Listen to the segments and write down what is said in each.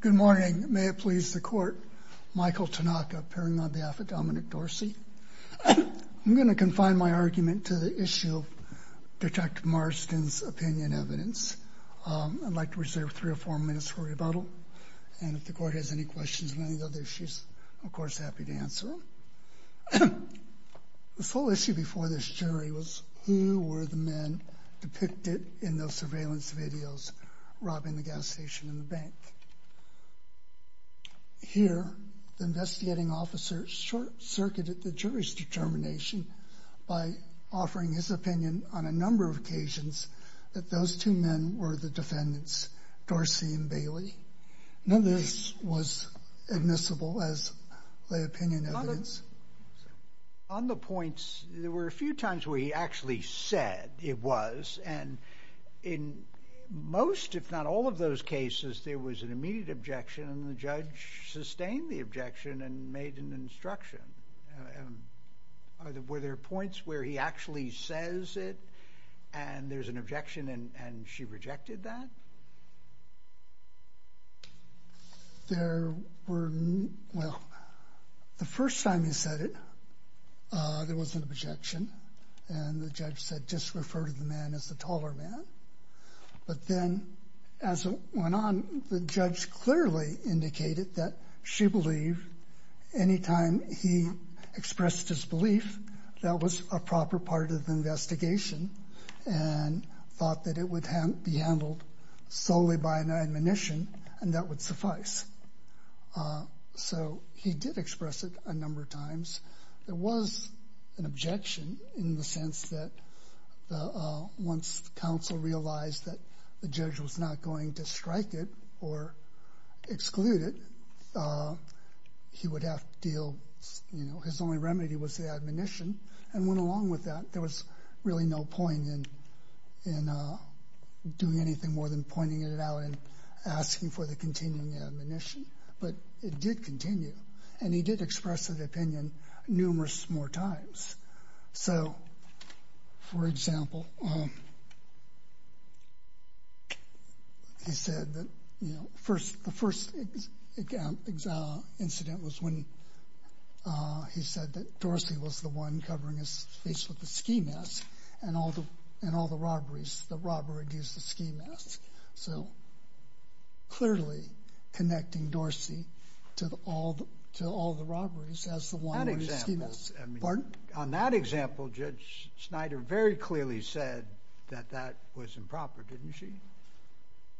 Good morning. May it please the Court, Michael Tanaka appearing on behalf of Dominic Dorsey. I'm going to confine my argument to the issue of Detective Marston's opinion evidence. I'd like to reserve three or four minutes for rebuttal, and if the Court has any questions or any other issues, I'm of course happy to answer them. The full issue before this jury was who were the men depicted in those surveillance videos robbing the gas station and the bank. Here, the investigating officer short-circuited the jury's determination by offering his opinion on a number of occasions that those two men were the defendants, Dorsey and Bailey. None of this was admissible as the opinion evidence. On the points, there were a few times where he actually said it was, and in most, if not all, of those cases there was an immediate objection, and the judge sustained the objection and made an instruction. Were there points where he actually says it, and there's an objection, and she rejected that? There were, well, the first time he said it, there was an objection, and the judge said just refer to the man as the taller man, but then as it went on, the judge clearly indicated that she believed any time he expressed his belief, that was a proper part of the investigation, and thought that it would be handled solely by an admonition, and that would suffice. So he did express it a number of times. There was an objection in the sense that once counsel realized that the judge was not going to strike it or exclude it, he would have to deal, you know, his only remedy was the admonition, and went along with that. There was really no point in doing anything more than pointing it out and asking for the continuing admonition, but it did continue, and he did express his opinion numerous more times. So, for example, he said that, you know, the first incident was when he said that Dorsey was the one covering his face with the ski mask, and all the robberies, the robber would use the ski mask. So, clearly connecting Dorsey to all the robberies as the one with the ski mask. On that example, Judge Snyder very clearly said that that was improper, didn't she?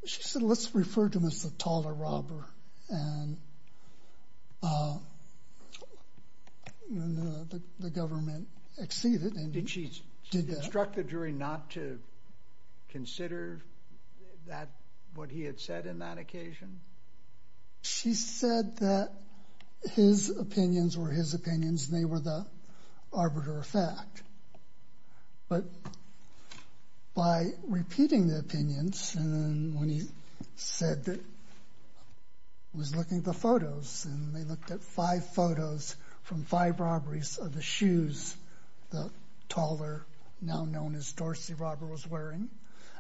She said, let's refer to him as the taller robber, and the government exceeded, and did that. Did she instruct the jury not to consider that, what he had said in that occasion? She said that his opinions were his opinions, and they were the arbiter of fact. But by repeating the opinions, and when he said that, was looking at the photos, and they looked at five photos from five robberies of the shoes the taller, now known as Dorsey, robber was wearing,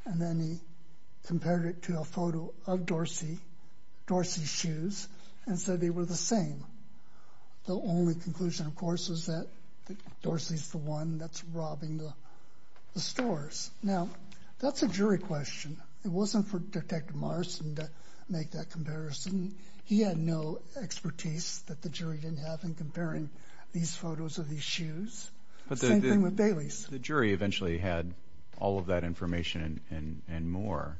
and then he compared it to a photo of Dorsey, Dorsey's shoes, and said they were the same. The only conclusion, of course, was that Dorsey's the one that's robbing the stores. Now, that's a jury question. It wasn't for Detective Morrison to make that comparison. He had no expertise that the jury didn't have in comparing these photos of these shoes. Same thing with Bailey's. But the jury eventually had all of that information and more,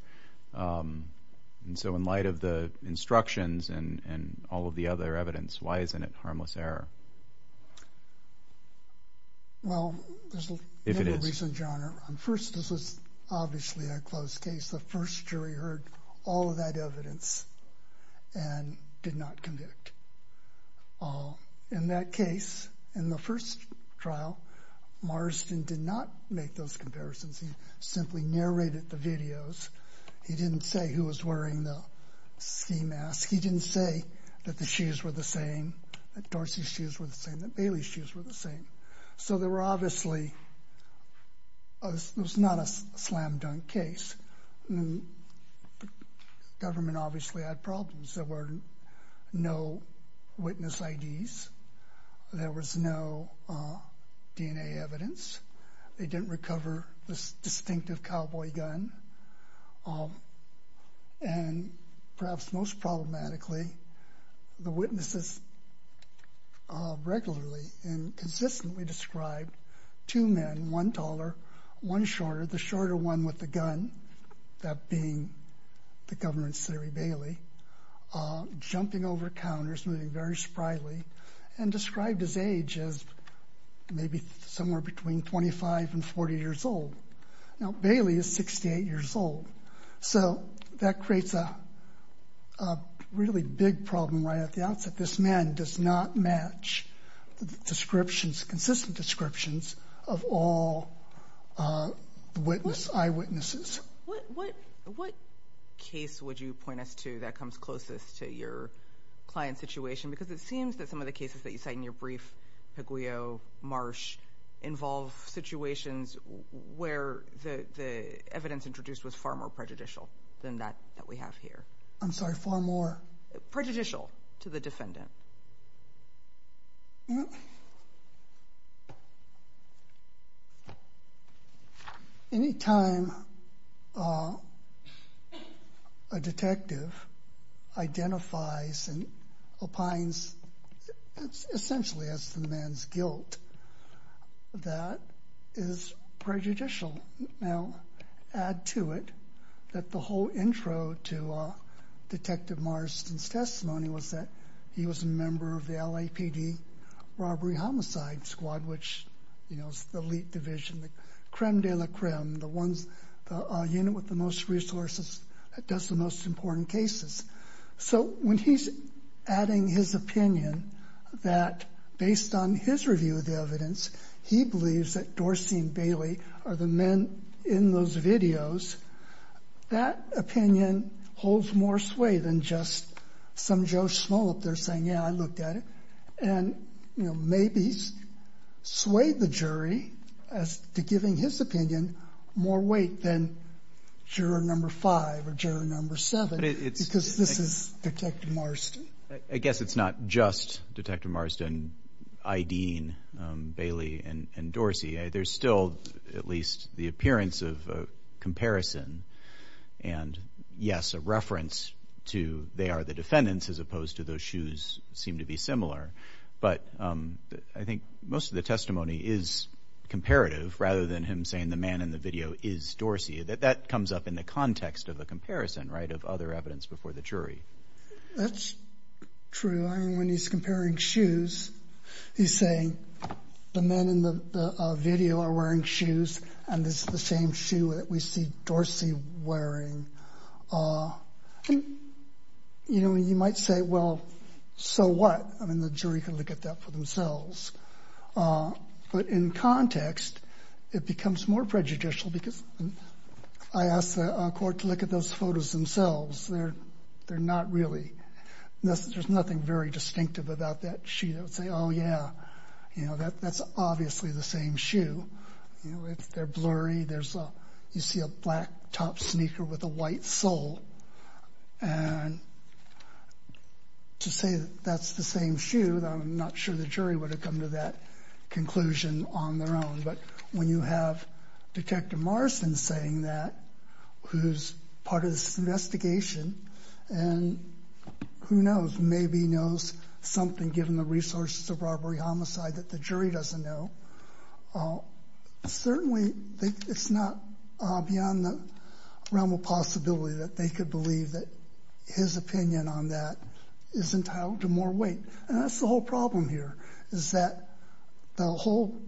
and so in light of the instructions and all of the other evidence, why isn't it harmless error? Well, there's a number of reasons, Your Honor. First, this was obviously a closed case. The first jury heard all of that evidence and did not convict. In that case, in the first trial, Morrison did not make those comparisons. He simply narrated the videos. He didn't say who was wearing the sea mask. He didn't say that the shoes were the same, that Dorsey's shoes were the same, that Bailey's shoes were the same. So there were obviously, it was not a slam-dunk case. The government obviously had problems. There were no witness IDs. There was no DNA evidence. They didn't recover this distinctive cowboy gun. And perhaps most problematically, the witnesses regularly and consistently described two men, one taller, one shorter, the shorter one with the gun, that being the governor in Surrey, Bailey, jumping over counters, moving very spryly, and described his age as maybe somewhere between 25 and 40 years old. Now, Bailey is 68 years old. So that creates a really big problem right at the outset. This man does not match the descriptions, consistent descriptions of all eyewitnesses. What case would you point us to that comes closest to your client's situation? Because it seems that some of the cases that you cite in your brief, Paguio, Marsh, involve situations where the evidence introduced was far more prejudicial than that that we have here. I'm sorry, far more? Prejudicial to the defendant. Well, any time a detective identifies and opines essentially as to the man's guilt, that is prejudicial. Now, add to it that the whole intro to Detective Marsden's testimony was that he was a member of the LAPD robbery homicide squad, which is the elite division, the creme de la creme, the unit with the most resources that does the most important cases. So when he's adding his opinion that based on his review of the evidence, he believes that Dorsey and Bailey are the men in those videos, that opinion holds more sway than just some Joe Smollett there saying, yeah, I looked at it. And, you know, maybe sway the jury as to giving his opinion more weight than juror number five or juror number seven, because this is Detective Marsden. I guess it's not just Detective Marsden, Ideen, Bailey and Dorsey. There's still at least the appearance of a comparison and, yes, a reference to they are the defendants as opposed to those shoes seem to be similar. But I think most of the testimony is comparative rather than him saying the man in the video is Dorsey. That comes up in the context of a comparison, right, of other evidence before the jury. That's true. I mean, when he's comparing shoes, he's saying the men in the video are wearing shoes and this is the same shoe that we see Dorsey wearing. You know, you might say, well, so what? I mean, the jury can look at that for themselves. But in context, it becomes more prejudicial because I asked the court to look at those photos themselves. They're not really. There's nothing very distinctive about that shoe. They would say, oh, yeah, you know, that's obviously the same shoe. They're blurry. You see a black top sneaker with a white sole. And to say that's the same shoe, I'm not sure the jury would have come to that conclusion on their own. But when you have Detective Morrison saying that, who's part of this investigation, and who knows, maybe knows something given the resources of robbery homicide that the jury doesn't know, certainly it's not beyond the realm of possibility that they could believe that his opinion on that is entitled to more weight. And that's the whole problem here is that the whole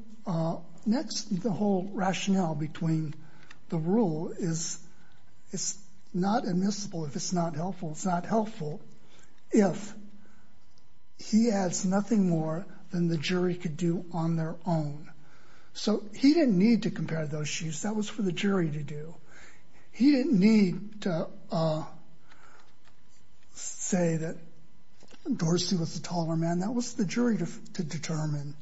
rationale between the rule is it's not admissible if it's not helpful. It's not helpful if he adds nothing more than the jury could do on their own. So he didn't need to compare those shoes. That was for the jury to do. He didn't need to say that Dorsey was the taller man. That was the jury to determine.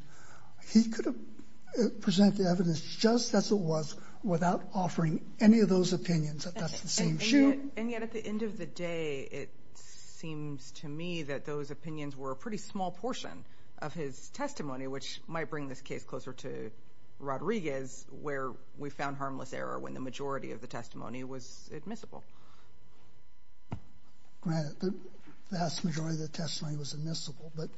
He could have presented the evidence just as it was without offering any of those opinions that that's the same shoe. And yet at the end of the day, it seems to me that those opinions were a pretty small portion of his testimony, which might bring this case closer to Rodriguez where we found harmless error when the majority of the testimony was admissible. The vast majority of the testimony was admissible, but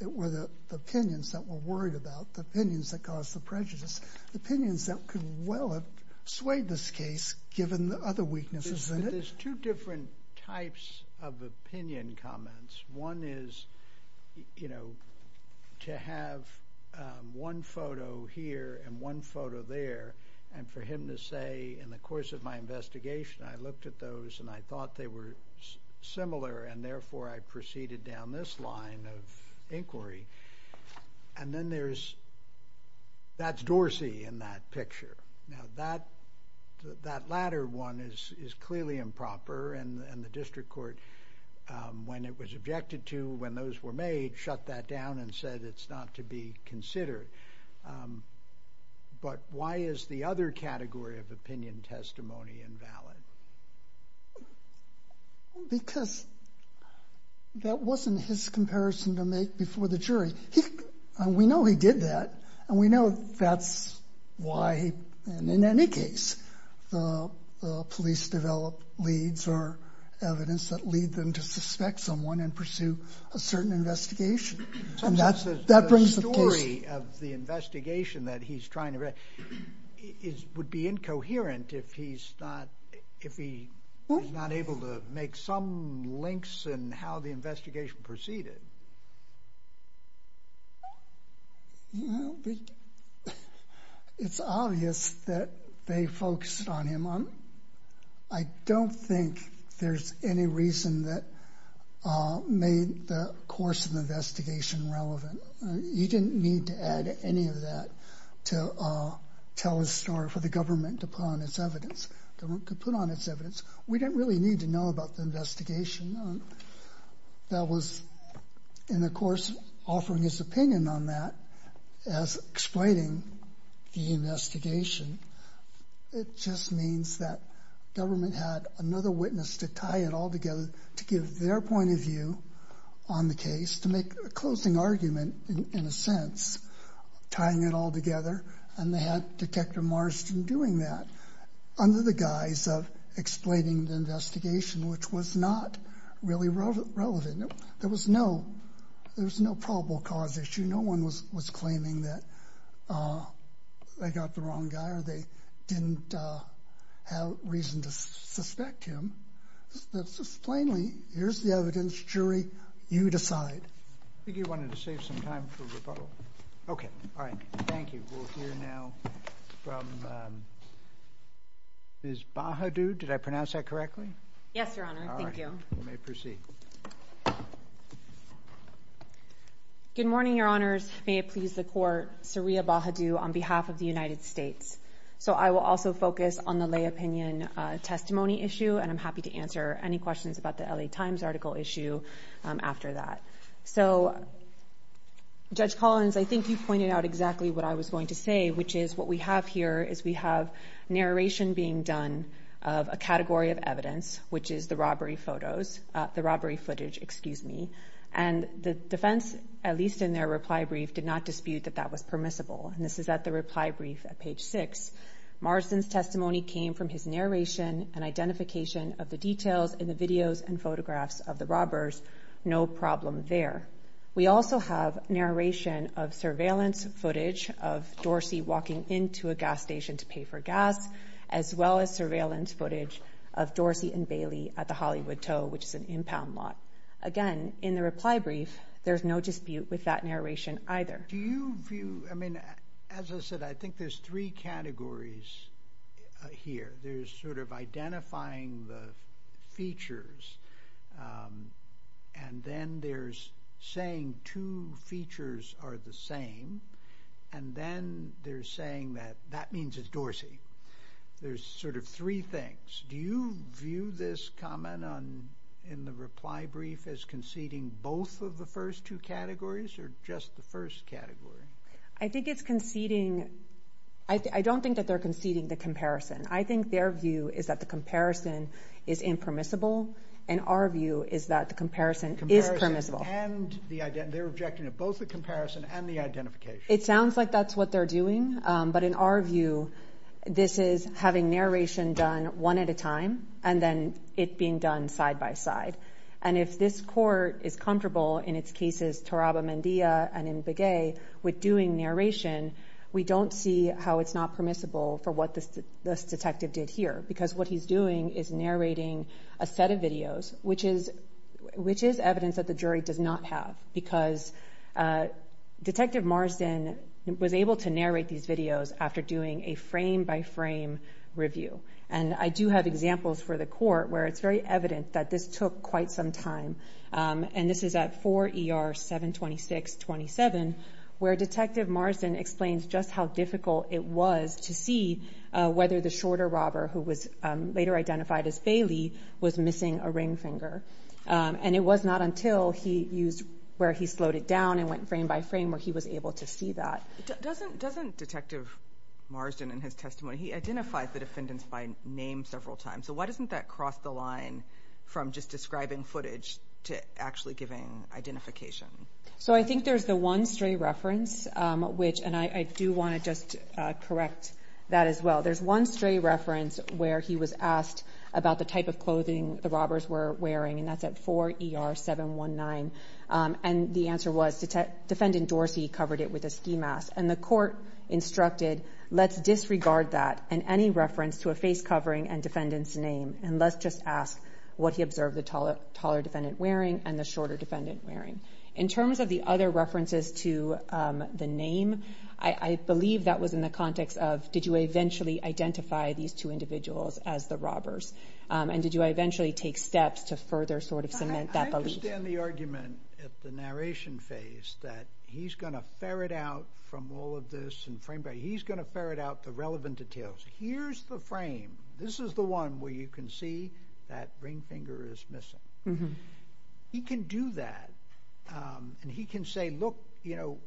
it were the opinions that were worried about, the opinions that caused the prejudice, the opinions that could well have swayed this case given the other weaknesses in it. There's two different types of opinion comments. One is to have one photo here and one photo there and for him to say, in the course of my investigation, I looked at those and I thought they were similar, and therefore I proceeded down this line of inquiry. And then there's, that's Dorsey in that picture. Now that latter one is clearly improper and the district court, when it was objected to, when those were made, shut that down and said it's not to be considered. But why is the other category of opinion testimony invalid? Because that wasn't his comparison to make before the jury. We know he did that and we know that's why, and in any case, the police develop leads or evidence that lead them to suspect someone and pursue a certain investigation. And that brings the case. of the investigation that he's trying to, would be incoherent if he's not able to make some links in how the investigation proceeded. It's obvious that they focused on him. I don't think there's any reason that made the course of the investigation relevant. You didn't need to add any of that to tell a story for the government to put on its evidence. The government could put on its evidence. We didn't really need to know about the investigation. That was, in the course of offering his opinion on that as explaining the investigation, it just means that government had another witness to tie it all together to give their point of view on the case, to make a closing argument, in a sense, tying it all together. And they had Detective Marston doing that under the guise of explaining the investigation, which was not really relevant. There was no probable cause issue. No one was claiming that they got the wrong guy or they didn't have reason to suspect him. Plainly, here's the evidence, jury. You decide. I think he wanted to save some time for rebuttal. Okay. All right. Thank you. We'll hear now from Ms. Bahadu. Did I pronounce that correctly? Yes, Your Honor. Thank you. You may proceed. Good morning, Your Honors. May it please the Court. Saria Bahadu on behalf of the United States. So I will also focus on the lay opinion testimony issue, and I'm happy to answer any questions about the L.A. Times article issue after that. So, Judge Collins, I think you pointed out exactly what I was going to say, which is what we have here is we have narration being done of a category of evidence, which is the robbery footage, and the defense, at least in their reply brief, did not dispute that that was permissible. And this is at the reply brief at page 6. Marsden's testimony came from his narration and identification of the details in the videos and photographs of the robbers. No problem there. We also have narration of surveillance footage of Dorsey walking into a gas station to pay for gas, as well as surveillance footage of Dorsey and Bailey at the Hollywood Tow, which is an impound lot. Again, in the reply brief, there's no dispute with that narration either. Do you view, I mean, as I said, I think there's three categories here. There's sort of identifying the features, and then there's saying two features are the same, and then there's saying that that means it's Dorsey. There's sort of three things. Do you view this comment in the reply brief as conceding both of the first two categories or just the first category? I think it's conceding. I don't think that they're conceding the comparison. I think their view is that the comparison is impermissible, and our view is that the comparison is permissible. They're objecting to both the comparison and the identification. It sounds like that's what they're doing, but in our view this is having narration done one at a time and then it being done side by side. And if this court is comfortable in its cases Taraba-Mendia and Mbege with doing narration, we don't see how it's not permissible for what this detective did here because what he's doing is narrating a set of videos, which is evidence that the jury does not have, because Detective Marsden was able to narrate these videos after doing a frame-by-frame review. And I do have examples for the court where it's very evident that this took quite some time, and this is at 4 ER 726-27 where Detective Marsden explains just how difficult it was to see whether the shorter robber, who was later identified as Bailey, was missing a ring finger. And it was not until he used where he slowed it down and went frame by frame where he was able to see that. Doesn't Detective Marsden in his testimony, he identified the defendants by name several times, so why doesn't that cross the line from just describing footage to actually giving identification? So I think there's the one stray reference, and I do want to just correct that as well. There's one stray reference where he was asked about the type of clothing the robbers were wearing, and that's at 4 ER 719, and the answer was Defendant Dorsey covered it with a ski mask. And the court instructed let's disregard that and any reference to a face covering and defendant's name, and let's just ask what he observed the taller defendant wearing and the shorter defendant wearing. In terms of the other references to the name, I believe that was in the context of did you eventually identify these two individuals as the robbers, and did you eventually take steps to further cement that belief? I understand the argument at the narration phase that he's going to ferret out from all of this, and frame by frame, he's going to ferret out the relevant details. Here's the frame. This is the one where you can see that ring finger is missing. He can do that, and he can say, look,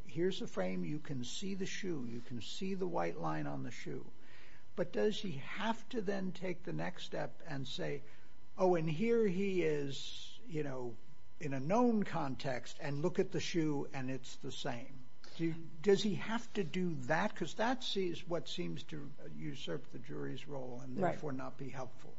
here's the frame. You can see the shoe. You can see the white line on the shoe, but does he have to then take the next step and say, oh, and here he is, you know, in a known context, and look at the shoe, and it's the same. Does he have to do that? Because that's what seems to usurp the jury's role and therefore not be helpful.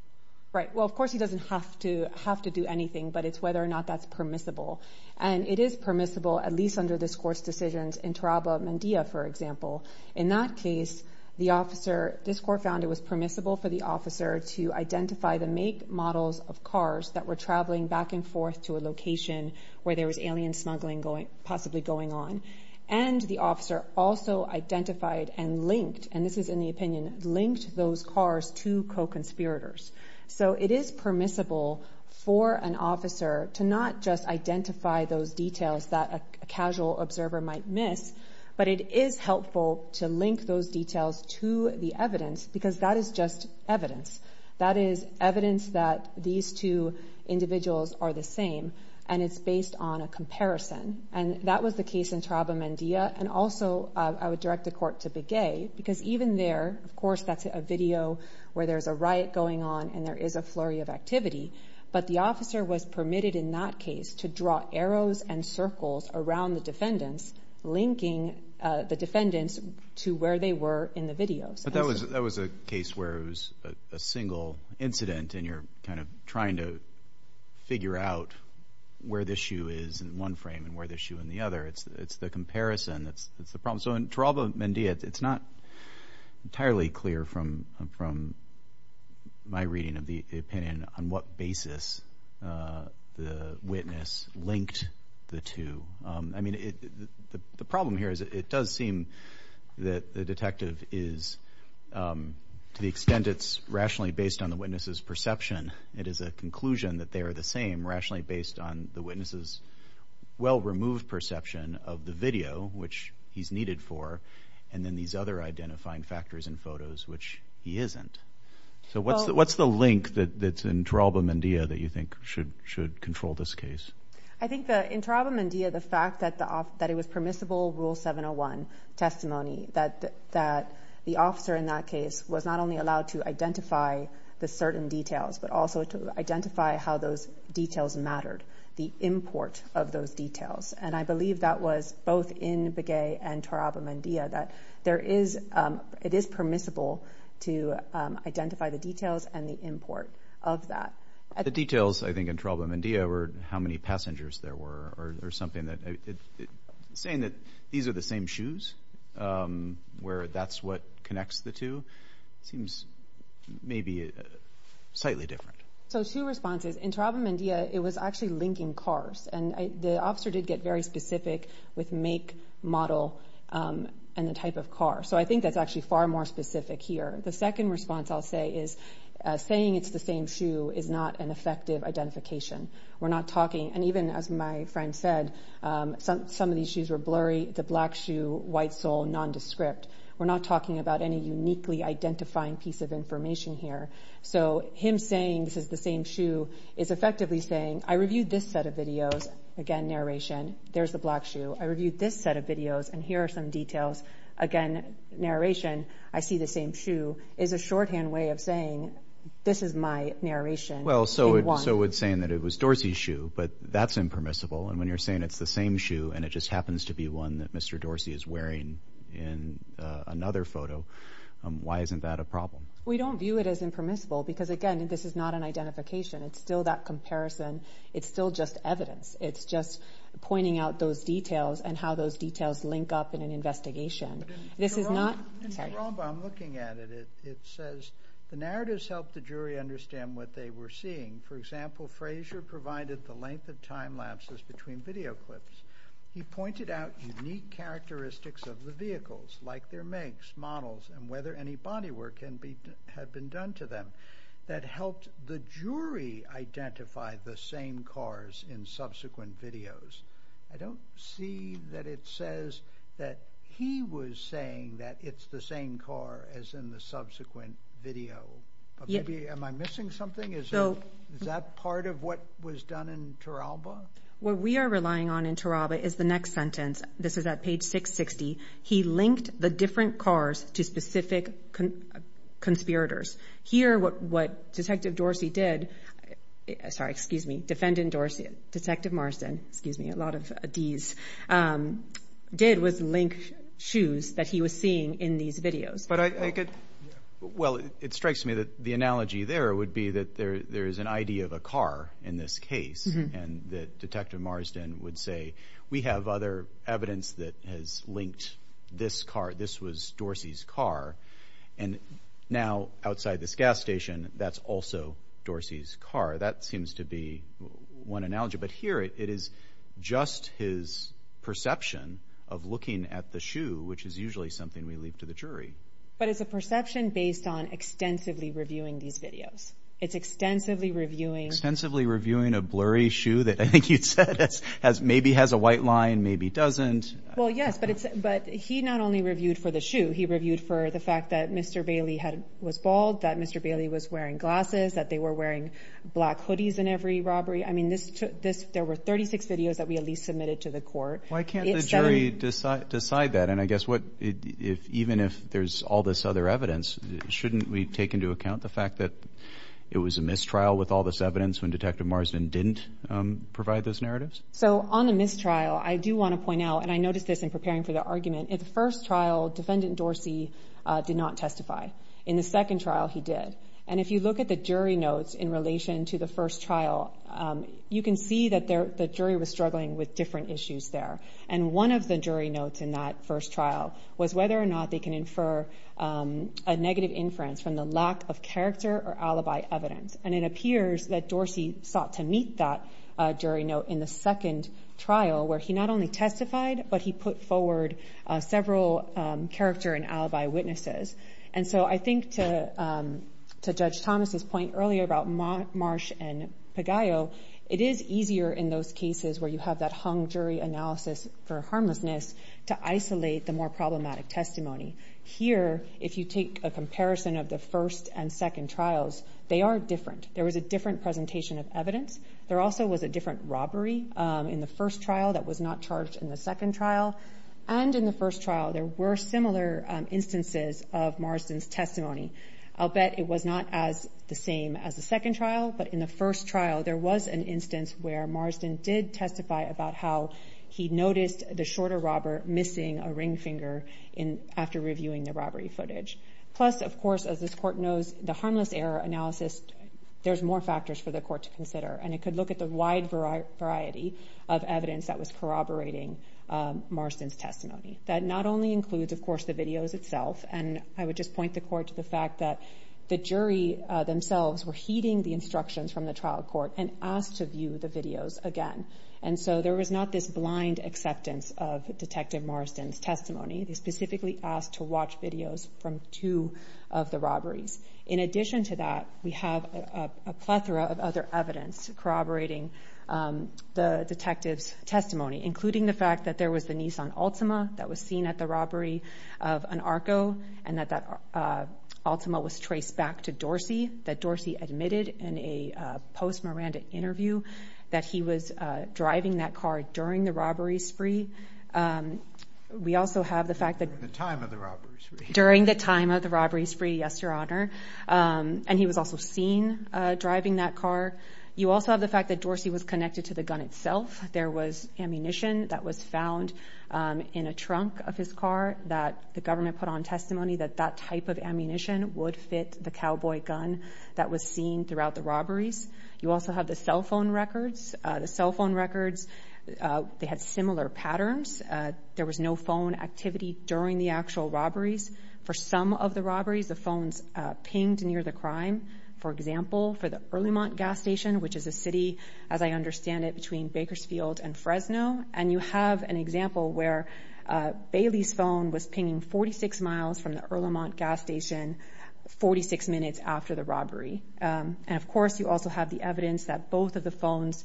Right. Well, of course, he doesn't have to do anything, but it's whether or not that's permissible, and it is permissible, at least under this court's decisions, in Taraba, Mandia, for example. In that case, this court found it was permissible for the officer to identify the make models of cars that were traveling back and forth to a location where there was alien smuggling possibly going on, and the officer also identified and linked, and this is in the opinion, linked those cars to co-conspirators. So it is permissible for an officer to not just identify those details that a casual observer might miss, but it is helpful to link those details to the evidence, because that is just evidence. That is evidence that these two individuals are the same, and it's based on a comparison, and that was the case in Taraba, Mandia, and also I would direct the court to Begay, because even there, of course, that's a video where there's a riot going on and there is a flurry of activity, but the officer was permitted in that case to draw arrows and circles around the defendants, linking the defendants to where they were in the video. But that was a case where it was a single incident, and you're kind of trying to figure out where the shoe is in one frame and where the shoe in the other. It's the comparison that's the problem. So in Taraba, Mandia, it's not entirely clear from my reading of the opinion on what basis the witness linked the two. I mean, the problem here is it does seem that the detective is, to the extent it's rationally based on the witness's perception, it is a conclusion that they are the same, rationally based on the witness's well-removed perception of the video, which he's needed for, and then these other identifying factors in photos, which he isn't. So what's the link that's in Taraba, Mandia, that you think should control this case? I think in Taraba, Mandia, the fact that it was permissible Rule 701 testimony, that the officer in that case was not only allowed to identify the certain details, but also to identify how those details mattered, the import of those details. And I believe that was both in Begay and Taraba, Mandia, that there is – it is permissible to identify the details and the import of that. The details, I think, in Taraba, Mandia were how many passengers there were, or something that – saying that these are the same shoes, where that's what connects the two, seems maybe slightly different. So two responses. In Taraba, Mandia, it was actually linking cars, and the officer did get very specific with make, model, and the type of car. So I think that's actually far more specific here. The second response, I'll say, is saying it's the same shoe is not an effective identification. We're not talking – and even as my friend said, some of these shoes were blurry. It's a black shoe, white sole, nondescript. We're not talking about any uniquely identifying piece of information here. So him saying this is the same shoe is effectively saying I reviewed this set of videos. Again, narration. There's the black shoe. I reviewed this set of videos, and here are some details. Again, narration. I see the same shoe is a shorthand way of saying this is my narration. Well, so it's saying that it was Dorsey's shoe, but that's impermissible. And when you're saying it's the same shoe and it just happens to be one that Mr. Dorsey is wearing in another photo, why isn't that a problem? We don't view it as impermissible because, again, this is not an identification. It's still that comparison. It's still just evidence. It's just pointing out those details and how those details link up in an investigation. This is not – sorry. In the ROMBA, I'm looking at it. It says the narratives helped the jury understand what they were seeing. For example, Frazier provided the length of time lapses between video clips. He pointed out unique characteristics of the vehicles, like their makes, models, and whether any body work had been done to them. That helped the jury identify the same cars in subsequent videos. I don't see that it says that he was saying that it's the same car as in the subsequent video. Am I missing something? Is that part of what was done in Turalba? What we are relying on in Turalba is the next sentence. This is at page 660. He linked the different cars to specific conspirators. Here, what Detective Dorsey did – sorry, excuse me, Defendant Dorsey, Detective Marsden, excuse me, a lot of Ds – did was link shoes that he was seeing in these videos. Well, it strikes me that the analogy there would be that there is an idea of a car in this case. And that Detective Marsden would say, we have other evidence that has linked this car. This was Dorsey's car. And now, outside this gas station, that's also Dorsey's car. That seems to be one analogy. But here, it is just his perception of looking at the shoe, which is usually something we leave to the jury. But it's a perception based on extensively reviewing these videos. It's extensively reviewing – Extensively reviewing a blurry shoe that I think you said maybe has a white line, maybe doesn't. Well, yes, but he not only reviewed for the shoe. He reviewed for the fact that Mr. Bailey was bald, that Mr. Bailey was wearing glasses, that they were wearing black hoodies in every robbery. I mean, there were 36 videos that we at least submitted to the court. Why can't the jury decide that? And I guess what – even if there's all this other evidence, shouldn't we take into account the fact that it was a mistrial with all this evidence when Detective Marsden didn't provide those narratives? So on the mistrial, I do want to point out – and I noticed this in preparing for the argument – in the first trial, Defendant Dorsey did not testify. In the second trial, he did. And if you look at the jury notes in relation to the first trial, you can see that the jury was struggling with different issues there. And one of the jury notes in that first trial was whether or not they can infer a negative inference from the lack of character or alibi evidence. And it appears that Dorsey sought to meet that jury note in the second trial where he not only testified, but he put forward several character and alibi witnesses. And so I think to Judge Thomas's point earlier about Marsh and Pagaio, it is easier in those cases where you have that hung jury analysis for harmlessness to isolate the more problematic testimony. Here, if you take a comparison of the first and second trials, they are different. There was a different presentation of evidence. There also was a different robbery in the first trial that was not charged in the second trial. And in the first trial, there were similar instances of Marsden's testimony. I'll bet it was not as the same as the second trial. But in the first trial, there was an instance where Marsden did testify about how he noticed the shorter robber missing a ring finger after reviewing the robbery footage. Plus, of course, as this Court knows, the harmless error analysis, there's more factors for the Court to consider. And it could look at the wide variety of evidence that was corroborating Marsden's testimony. That not only includes, of course, the videos itself. And I would just point the Court to the fact that the jury themselves were heeding the instructions from the trial court and asked to view the videos again. And so there was not this blind acceptance of Detective Marsden's testimony. They specifically asked to watch videos from two of the robberies. In addition to that, we have a plethora of other evidence corroborating the detective's testimony, including the fact that there was the Nissan Altima that was seen at the robbery of an Arco and that that Altima was traced back to Dorsey, that Dorsey admitted in a post-Miranda interview that he was driving that car during the robbery spree. We also have the fact that... During the time of the robbery spree. During the time of the robbery spree, yes, Your Honor. And he was also seen driving that car. You also have the fact that Dorsey was connected to the gun itself. There was ammunition that was found in a trunk of his car that the government put on testimony that that type of ammunition would fit the cowboy gun that was seen throughout the robberies. You also have the cell phone records. The cell phone records, they had similar patterns. There was no phone activity during the actual robberies. For some of the robberies, the phones pinged near the crime. For example, for the Earlemont Gas Station, which is a city, as I understand it, between Bakersfield and Fresno. And you have an example where Bailey's phone was pinging 46 miles from the Earlemont Gas Station 46 minutes after the robbery. And, of course, you also have the evidence that both of the phones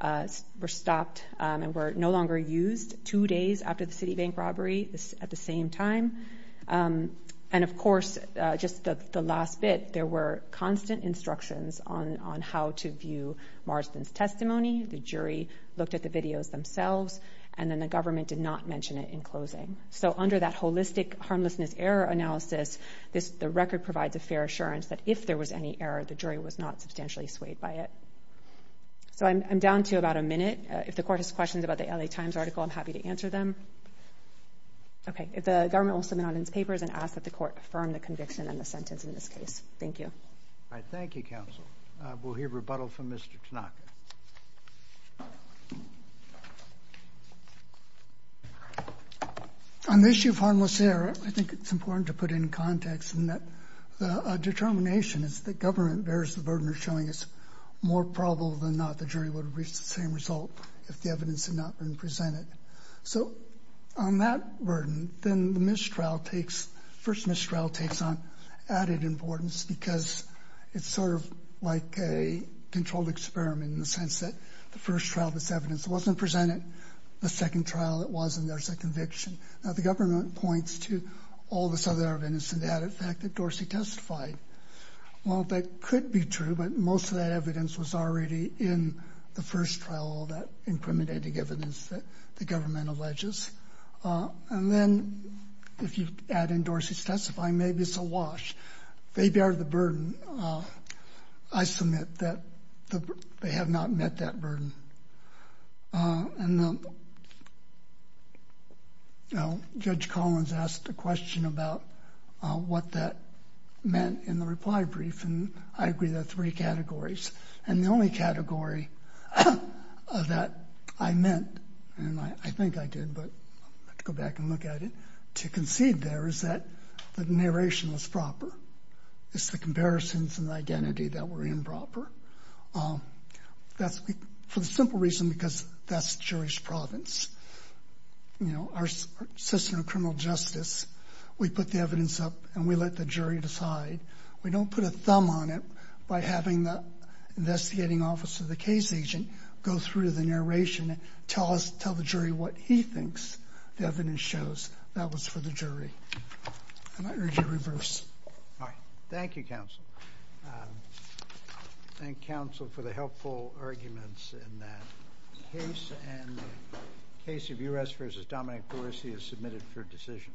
were stopped and were no longer used two days after the Citibank robbery at the same time. And, of course, just the last bit, there were constant instructions on how to view Marston's testimony. The jury looked at the videos themselves, and then the government did not mention it in closing. So under that holistic harmlessness error analysis, the record provides a fair assurance that if there was any error, the jury was not substantially swayed by it. So I'm down to about a minute. If the court has questions about the L.A. Times article, I'm happy to answer them. Okay. If the government will submit on its papers and ask that the court affirm the conviction and the sentence in this case. Thank you. All right. Thank you, counsel. We'll hear rebuttal from Mr. Tanaka. On the issue of harmless error, I think it's important to put it in context in that a determination is that government bears the burden of showing it's more probable than not that the jury would have reached the same result if the evidence had not been presented. So on that burden, then the missed trial takes on added importance because it's sort of like a controlled experiment in the sense that the first trial, this evidence wasn't presented. The second trial, it wasn't. There's a conviction. Now, the government points to all this other evidence and the added fact that Dorsey testified. Well, that could be true, but most of that evidence was already in the first trial, that incriminating evidence that the government alleges. And then if you add in Dorsey's testifying, maybe it's a wash. They bear the burden. And Judge Collins asked a question about what that meant in the reply brief, and I agree there are three categories. And the only category that I meant, and I think I did, but let's go back and look at it, to concede there is that the narration was proper. It's the comparisons and the identity that were improper. That's for the simple reason because that's jury's province. You know, our system of criminal justice, we put the evidence up and we let the jury decide. We don't put a thumb on it by having the investigating officer, the case agent, go through the narration and tell the jury what he thinks the evidence shows. That was for the jury. And I urge a reverse. All right. Thank you, counsel. Thank you, counsel, for the helpful arguments in that case. And the case of U.S. v. Dominic Dorsey is submitted for decision.